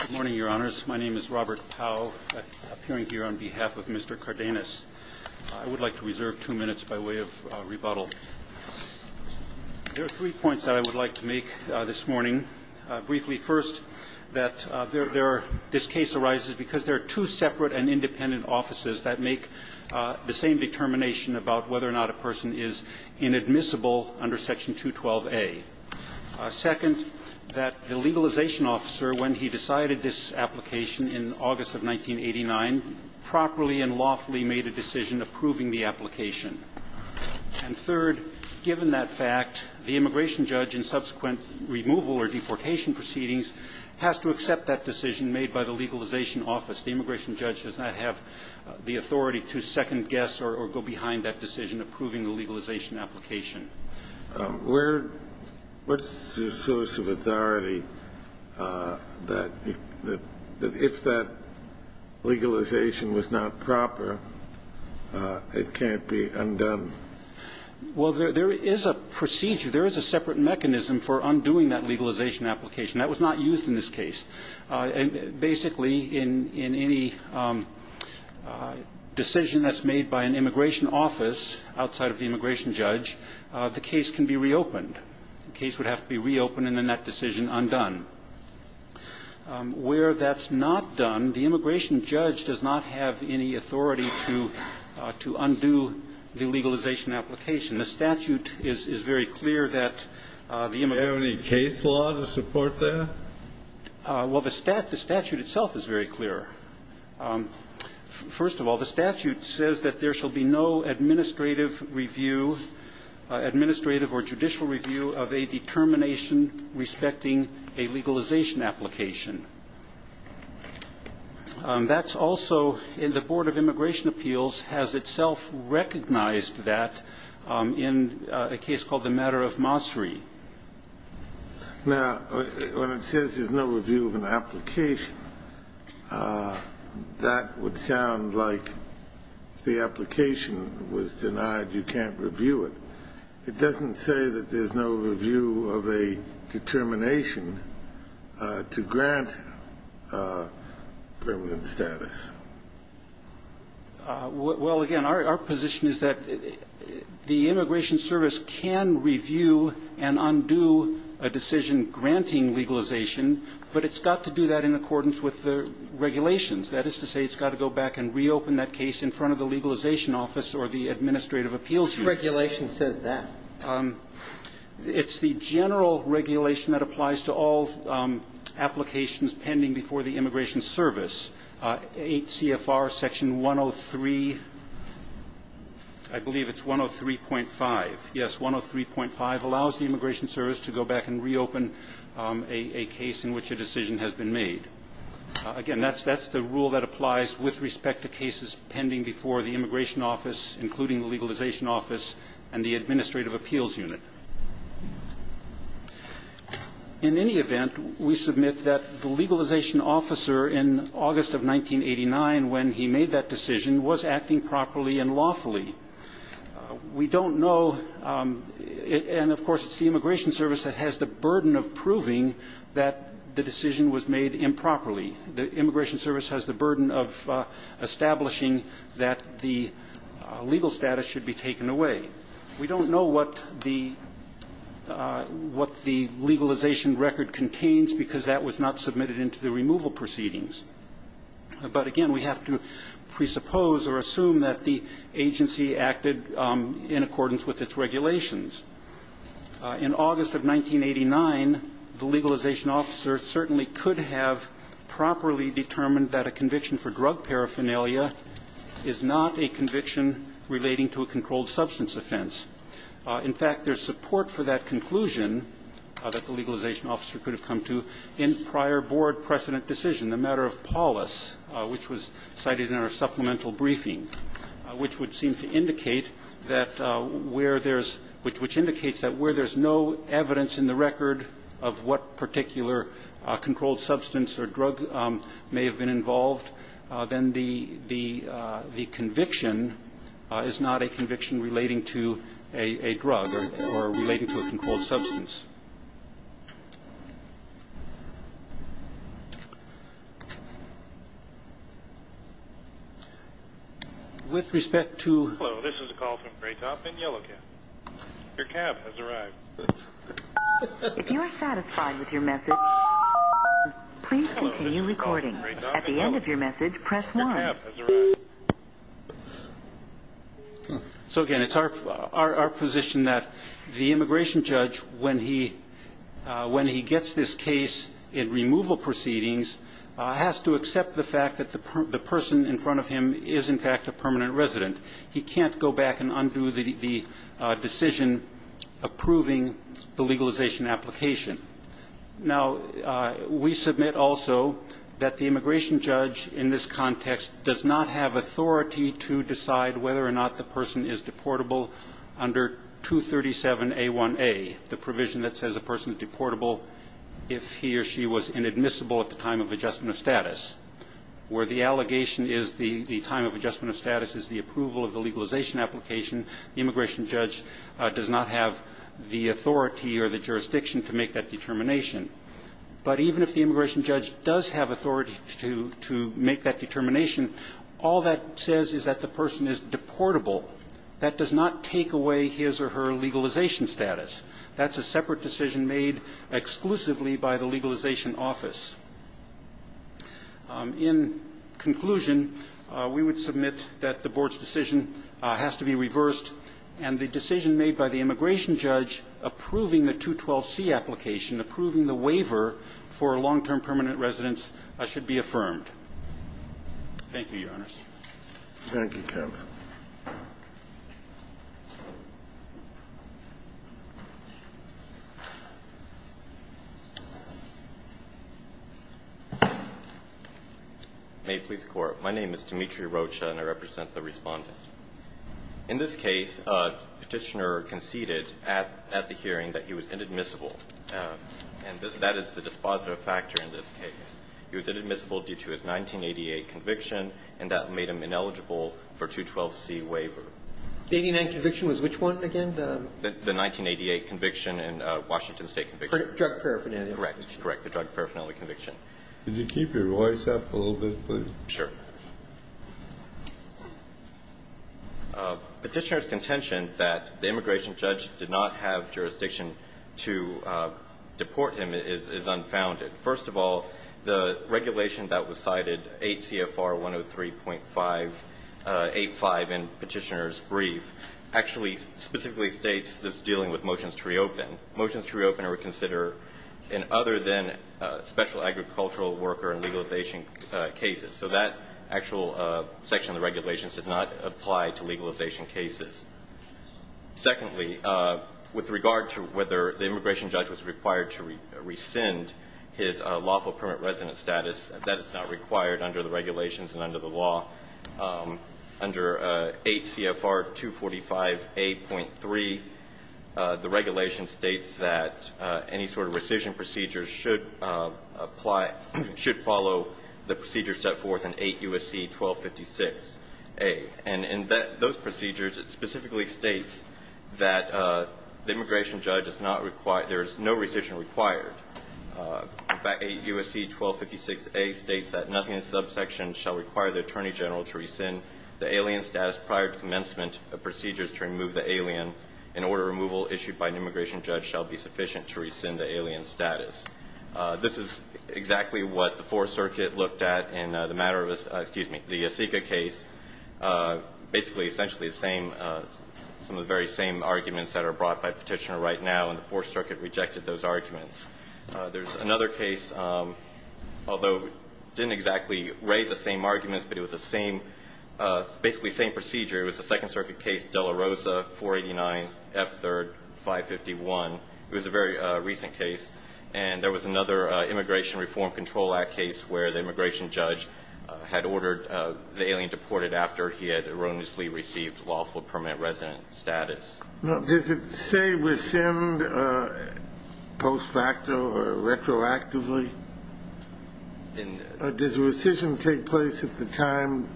Good morning, Your Honors. My name is Robert Powe, appearing here on behalf of Mr. Cardenas. I would like to reserve two minutes by way of rebuttal. There are three points that I would like to make this morning. Briefly, first, that this case arises because there are two separate and independent offices that make the same determination about whether or not a person is inadmissible under Section 212A. Second, that the legalization officer, when he decided this application in August of 1989, properly and lawfully made a decision approving the application. And third, given that fact, the immigration judge in subsequent removal or deportation proceedings has to accept that decision made by the legalization office. The immigration judge does not have the authority to second-guess or go behind that decision approving the legalization application. Where the source of authority that if that legalization was not proper, it can't be undone? Well, there is a procedure. There is a separate mechanism for undoing that legalization application. That was not used in this case. Basically, in any decision that's made by an immigration office outside of the immigration judge, the case can be reopened. The case would have to be reopened and, in that decision, undone. Where that's not done, the immigration judge does not have any authority to undo the legalization application. The statute is very clear that the immigration judge can't do that. Well, the statute itself is very clear. First of all, the statute says that there shall be no administrative review, administrative or judicial review, of a determination respecting a legalization application. That's also in the Board of Immigration Appeals has itself recognized that in a case called the matter of Mossery. Now, when it says there's no review of an application, that would sound like the application was denied, you can't review it. It doesn't say that there's no review of a determination to grant permanent status. Well, again, our position is that the immigration service can review and undo a decision granting legalization, but it's got to do that in accordance with the regulations. That is to say, it's got to go back and reopen that case in front of the legalization office or the administrative appeals unit. What regulation says that? It's the general regulation that applies to all applications pending before the immigration service. 8 CFR section 103, I believe it's 103.5. Yes, 103.5 allows the immigration service to go back and reopen a case in which a decision has been made. Again, that's the rule that applies with respect to cases pending before the immigration office, including the legalization office and the administrative appeals unit. In any event, we submit that the legalization officer in August of 1989, when he made that decision, was acting properly and lawfully. We don't know, and of course it's the immigration service that has the burden of proving that the decision was made improperly. The immigration service has the burden of establishing that the legal status should be taken away. We don't know what the legalization record contains because that was not submitted into the removal proceedings. But again, we have to presuppose or assume that the agency acted in accordance with its regulations. In August of 1989, the legalization officer certainly could have properly determined that a conviction for drug paraphernalia is not a conviction relating to a controlled substance offense. In fact, there's support for that conclusion that the legalization officer could have come to in prior board precedent decision. The matter of polis, which was cited in our supplemental briefing, which would seem to indicate that where there's no evidence in the record of what particular controlled substance or drug may have been involved, then the conviction is not a conviction relating to a drug or relating to a controlled substance. With respect to... Hello, this is a call from Graytop and Yellow Cab. Your cab has arrived. If you are satisfied with your message, please continue recording. At the end of your message, press 1. Your cab has arrived. So, again, it's our position that the immigration judge, when he gets this case in removal proceedings, has to accept the fact that the person in front of him is, in fact, a permanent resident. He can't go back and undo the decision approving the legalization application. Now, we submit also that the immigration judge in this context does not have authority to decide whether or not the person is deportable under 237A1A, the provision that says a person is deportable if he or she was inadmissible at the time of adjustment of status, where the allegation is the time of adjustment of status is the approval of the legalization application, the immigration judge does not have the authority or the jurisdiction to make that determination. But even if the immigration judge does have authority to make that determination, all that says is that the person is deportable. That does not take away his or her legalization status. That's a separate decision made exclusively by the legalization office. In conclusion, we would submit that the Board's decision has to be reversed, and the decision made by the immigration judge approving the 212C application, approving the waiver for long-term permanent residents, should be affirmed. Thank you, Your Honors. Thank you, counsel. May it please the Court. My name is Dimitri Rocha, and I represent the Respondent. In this case, Petitioner conceded at the hearing that he was inadmissible, and that is the dispositive factor in this case. He was inadmissible due to his 1988 conviction, and that made him ineligible for 212C waiver. The 1989 conviction was which one again? The 1988 conviction and Washington State conviction. Drug paraphernalia conviction. Correct. The drug paraphernalia conviction. Could you keep your voice up a little bit, please? Sure. Petitioner's contention that the immigration judge did not have jurisdiction to deport him is unfounded. First of all, the regulation that was cited, 8 CFR 103.585 in Petitioner's brief, actually specifically states this dealing with motions to reopen. Motions to reopen are considered in other than special agricultural worker and legalization cases. So that actual section of the regulation does not apply to legalization cases. Secondly, with regard to whether the immigration judge was required to rescind his lawful permit resident status, that is not required under the regulations and under the law. Under 8 CFR 245A.3, the regulation states that any sort of rescission procedure should apply or should follow the procedure set forth in 8 U.S.C. 1256A. And in those procedures, it specifically states that the immigration judge is not required or there is no rescission required. In fact, 8 U.S.C. 1256A states that nothing in the subsection shall require the Attorney General to rescind the alien status prior to commencement of procedures to remove the alien in order removal issued by an immigration judge shall be sufficient to rescind the alien status. This is exactly what the Fourth Circuit looked at in the matter of, excuse me, the SICA case. Basically, essentially the same, some of the very same arguments that are brought by Petitioner right now, and the Fourth Circuit rejected those arguments. There's another case, although it didn't exactly raise the same arguments, but it was the same, basically the same procedure. It was the Second Circuit case, De La Rosa, 489 F. 3rd, 551. It was a very recent case. And there was another Immigration Reform Control Act case where the immigration judge had ordered the alien deported after he had erroneously received lawful permanent resident status. Now, does it say rescind post facto or retroactively? Does rescission take place at the time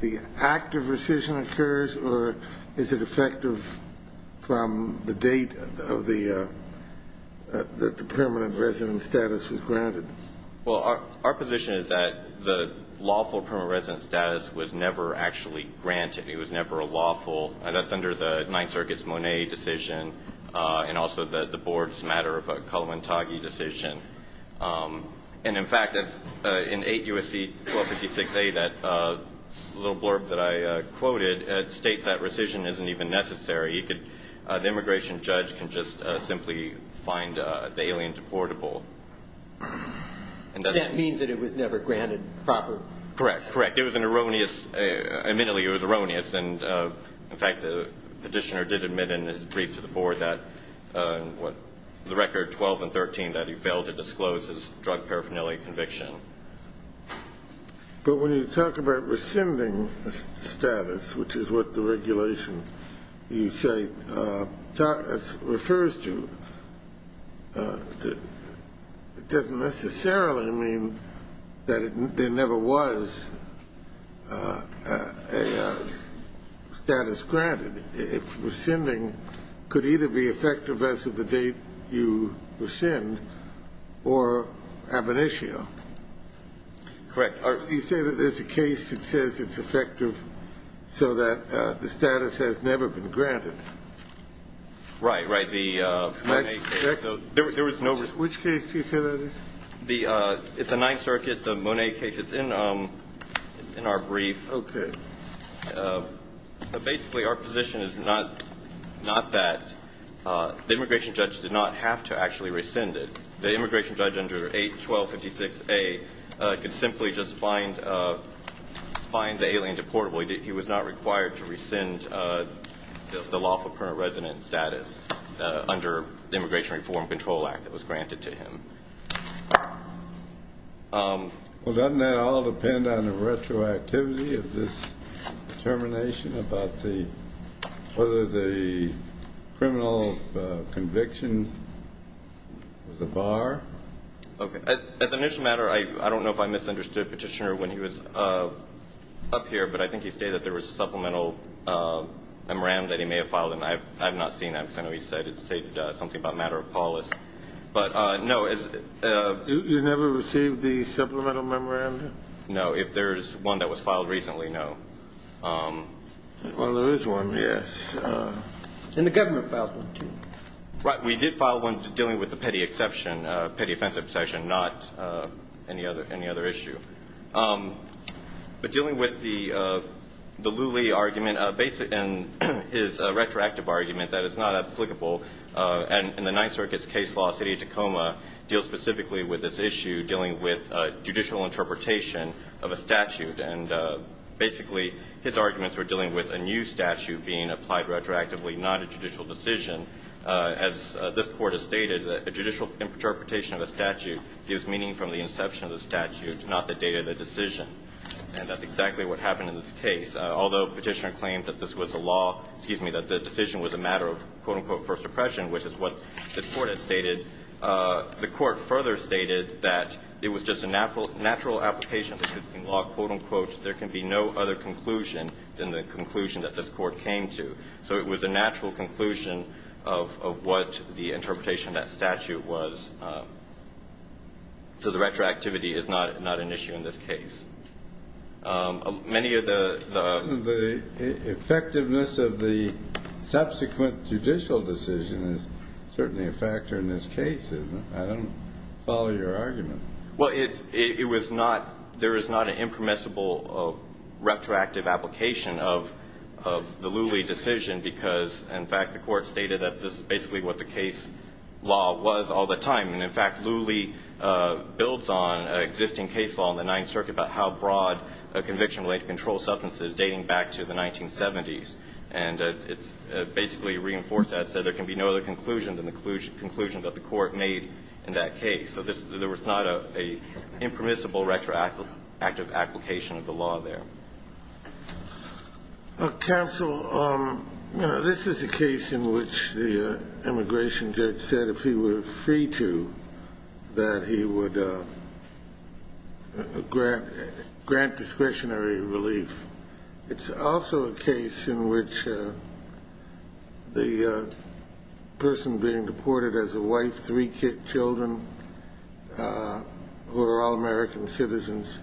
the act of rescission occurs, or is it effective from the date of the permanent resident status was granted? Well, our position is that the lawful permanent resident status was never actually granted. It was never a lawful. That's under the Ninth Circuit's Monet decision, and also the Board's matter of a Kaluantagi decision. And, in fact, in 8 U.S.C. 1256a, that little blurb that I quoted, states that the rescission isn't even necessary. The immigration judge can just simply find the alien deportable. And that means that it was never granted proper? Correct. Correct. It was an erroneous, admittedly, it was erroneous. And, in fact, the petitioner did admit in his brief to the Board that the record 12 and 13, that he failed to disclose his drug paraphernalia conviction. But when you talk about rescinding status, which is what the regulation, you say, refers to, it doesn't necessarily mean that there never was a status granted. If rescinding could either be effective as of the date you rescind or ab initio. Correct. You say that there's a case that says it's effective so that the status has never been granted. Right. Right. The Monet case. Which case do you say that is? It's a Ninth Circuit, the Monet case. It's in our brief. Okay. Basically, our position is not that the immigration judge did not have to actually rescind it. The immigration judge under 81256A could simply just find the alien deportable. He was not required to rescind the lawful permanent resident status under the Immigration Reform Control Act that was granted to him. Well, doesn't that all depend on the retroactivity of this determination about whether the criminal conviction was a bar? Okay. As an issue matter, I don't know if I misunderstood Petitioner when he was up here, but I think he stated that there was a supplemental MRAM that he may have filed, and I have not seen that because I know he stated something about matter of policy. But, no. You never received the supplemental MRAM? No. If there is one that was filed recently, no. Well, there is one, yes. And the government filed one, too. Right. We did file one dealing with the Petty Exception, Petty Offense Obsession, not any other issue. But dealing with the Lulee argument, and his retroactive argument that it's not applicable in the Ninth Circuit's case law, City of Tacoma deals specifically with this issue, dealing with judicial interpretation of a statute. And basically, his arguments were dealing with a new statute being applied retroactively, not a judicial decision. As this Court has stated, a judicial interpretation of a statute gives meaning from the inception of the statute, not the date of the decision. And that's exactly what happened in this case. Although Petitioner claimed that this was a law, excuse me, that the decision was a matter of, quote-unquote, first impression, which is what this Court has stated, the Court further stated that it was just a natural application of the 15 law, quote-unquote, there can be no other conclusion than the conclusion that this Court came to. So it was a natural conclusion of what the interpretation of that statute was. So the retroactivity is not an issue in this case. Many of the... The effectiveness of the subsequent judicial decision is certainly a factor in this case. I don't follow your argument. Well, it was not, there is not an impermissible retroactive application of the Lulee decision because, in fact, the Court stated that this is basically what the case law was all the time. And, in fact, Lulee builds on an existing case law in the Ninth Circuit about how broad a conviction-related control substance is dating back to the 1970s. And it's basically reinforced that, so there can be no other conclusion than the conclusion that the Court made in that case. So there was not an impermissible retroactive application of the law there. Counsel, this is a case in which the immigration judge said if he were free to, that he would grant discretionary relief. It's also a case in which the person being deported has a wife, three children, who are all American citizens.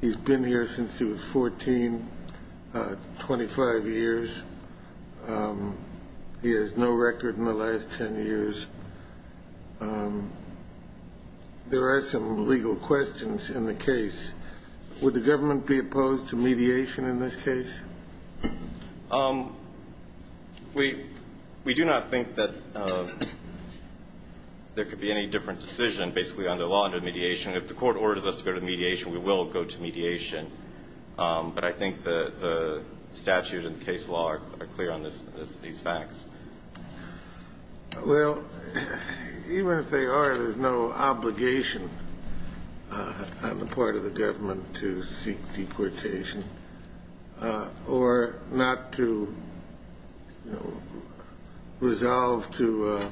He's been here since he was 14, 25 years. He has no record in the last 10 years. There are some legal questions in the case. Would the government be opposed to mediation in this case? We do not think that there could be any different decision, basically, on the law under mediation. If the Court orders us to go to mediation, we will go to mediation. But I think the statute and the case law are clear on these facts. Well, even if they are, there's no obligation on the part of the government to seek deportation or not to, you know, resolve to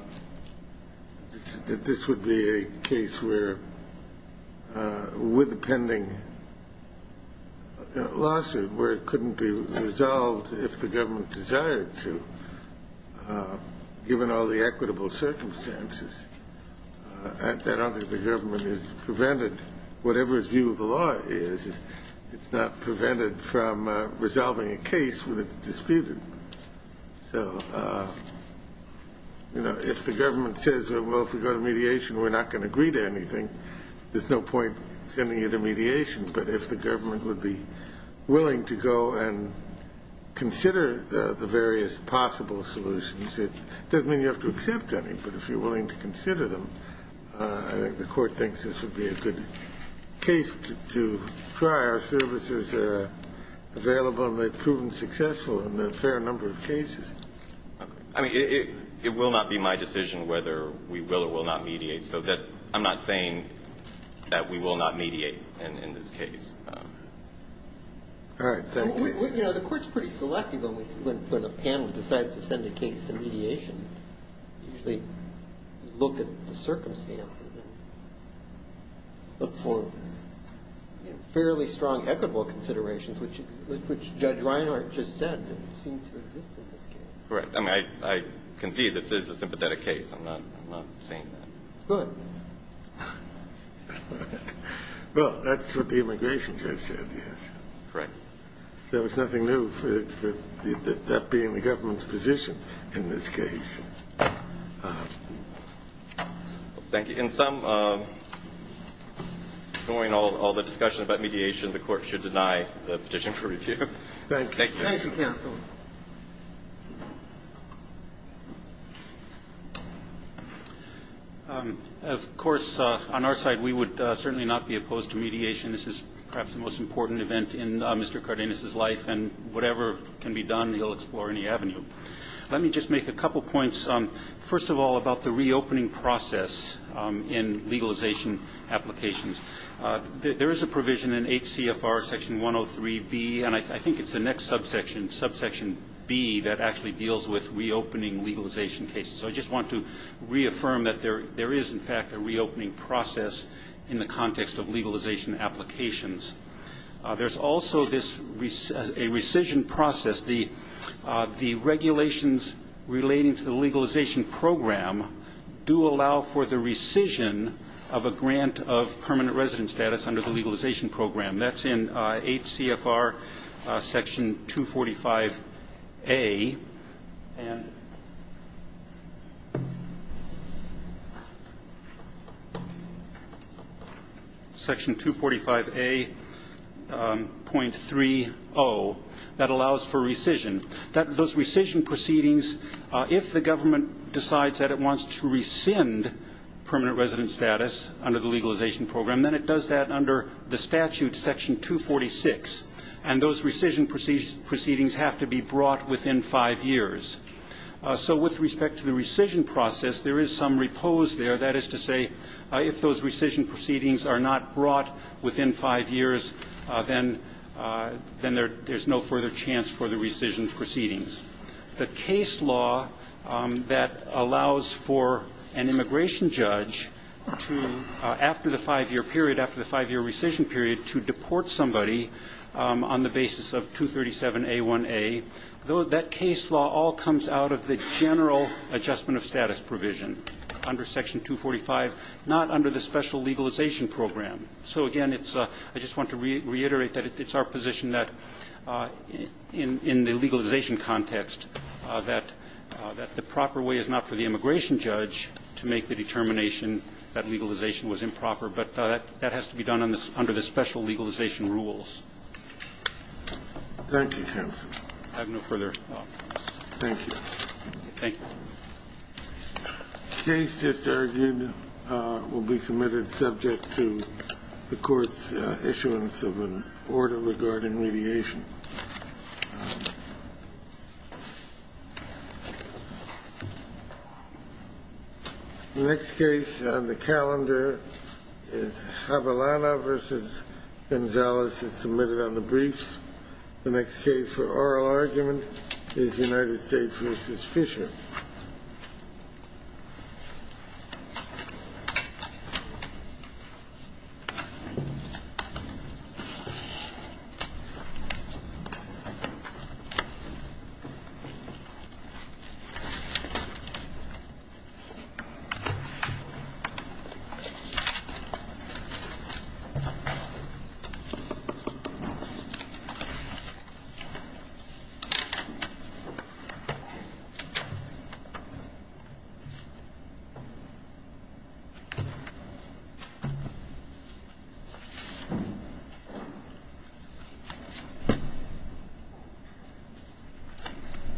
this would be a case where, with the pending lawsuit, where it couldn't be resolved if the government desired to, given all the equitable circumstances. I don't think the government is prevented. Whatever its view of the law is, it's not prevented from resolving a case when it's disputed. So, you know, if the government says, well, if we go to mediation, we're not going to agree to anything, there's no point sending you to mediation. But if the government would be willing to go and consider the various possible solutions, it doesn't mean you have to accept any. But if you're willing to consider them, I think the Court thinks this would be a good case to try. Our services are available, and they've proven successful in a fair number of cases. I mean, it will not be my decision whether we will or will not mediate. So I'm not saying that we will not mediate in this case. All right. Thank you. You know, the Court's pretty selective when a panel decides to send a case to mediation. They usually look at the circumstances and look for fairly strong equitable considerations, which Judge Reinhart just said seem to exist in this case. Correct. I mean, I concede this is a sympathetic case. I'm not saying that. Go ahead. Well, that's what the immigration judge said, yes. Correct. So it's nothing new for that being the government's position in this case. Thank you. In sum, knowing all the discussion about mediation, the Court should deny the petition for review. Thank you. Thank you, counsel. Of course, on our side, we would certainly not be opposed to mediation. This is perhaps the most important event in Mr. Cardenas's life, and whatever can be done, he'll explore any avenue. Let me just make a couple points. First of all, about the reopening process in legalization applications. There is a provision in 8 CFR Section 103B, and I think it's the next subsection, subsection B, that actually deals with reopening legalization cases. So I just want to reaffirm that there is, in fact, a reopening process in the context of legalization applications. There's also a rescission process. The regulations relating to the legalization program do allow for the rescission of a grant of permanent resident status under the legalization program. That's in 8 CFR Section 245A and Section 245A.30. That allows for rescission. Those rescission proceedings, if the government decides that it wants to rescind permanent resident status under the legalization program, then it does that under the statute, Section 246, and those rescission proceedings have to be brought within five years. So with respect to the rescission process, there is some repose there. That is to say, if those rescission proceedings are not brought within five years, then there's no further chance for the rescission proceedings. The case law that allows for an immigration judge to, after the five-year period, after the five-year rescission period, to deport somebody on the basis of 237A1A, that case law all comes out of the general adjustment of status provision under Section 245, not under the special legalization program. So, again, I just want to reiterate that it's our position that in the legalization context that the proper way is not for the immigration judge to make the determination that legalization was improper. But that has to be done under the special legalization rules. Thank you, counsel. I have no further comments. Thank you. Thank you. The case just argued will be submitted subject to the Court's issuance of an order regarding mediation. The next case on the calendar is Havilana v. Gonzalez. It's submitted on the briefs. The next case for oral argument is United States v. Fisher. Thank you. Thank you.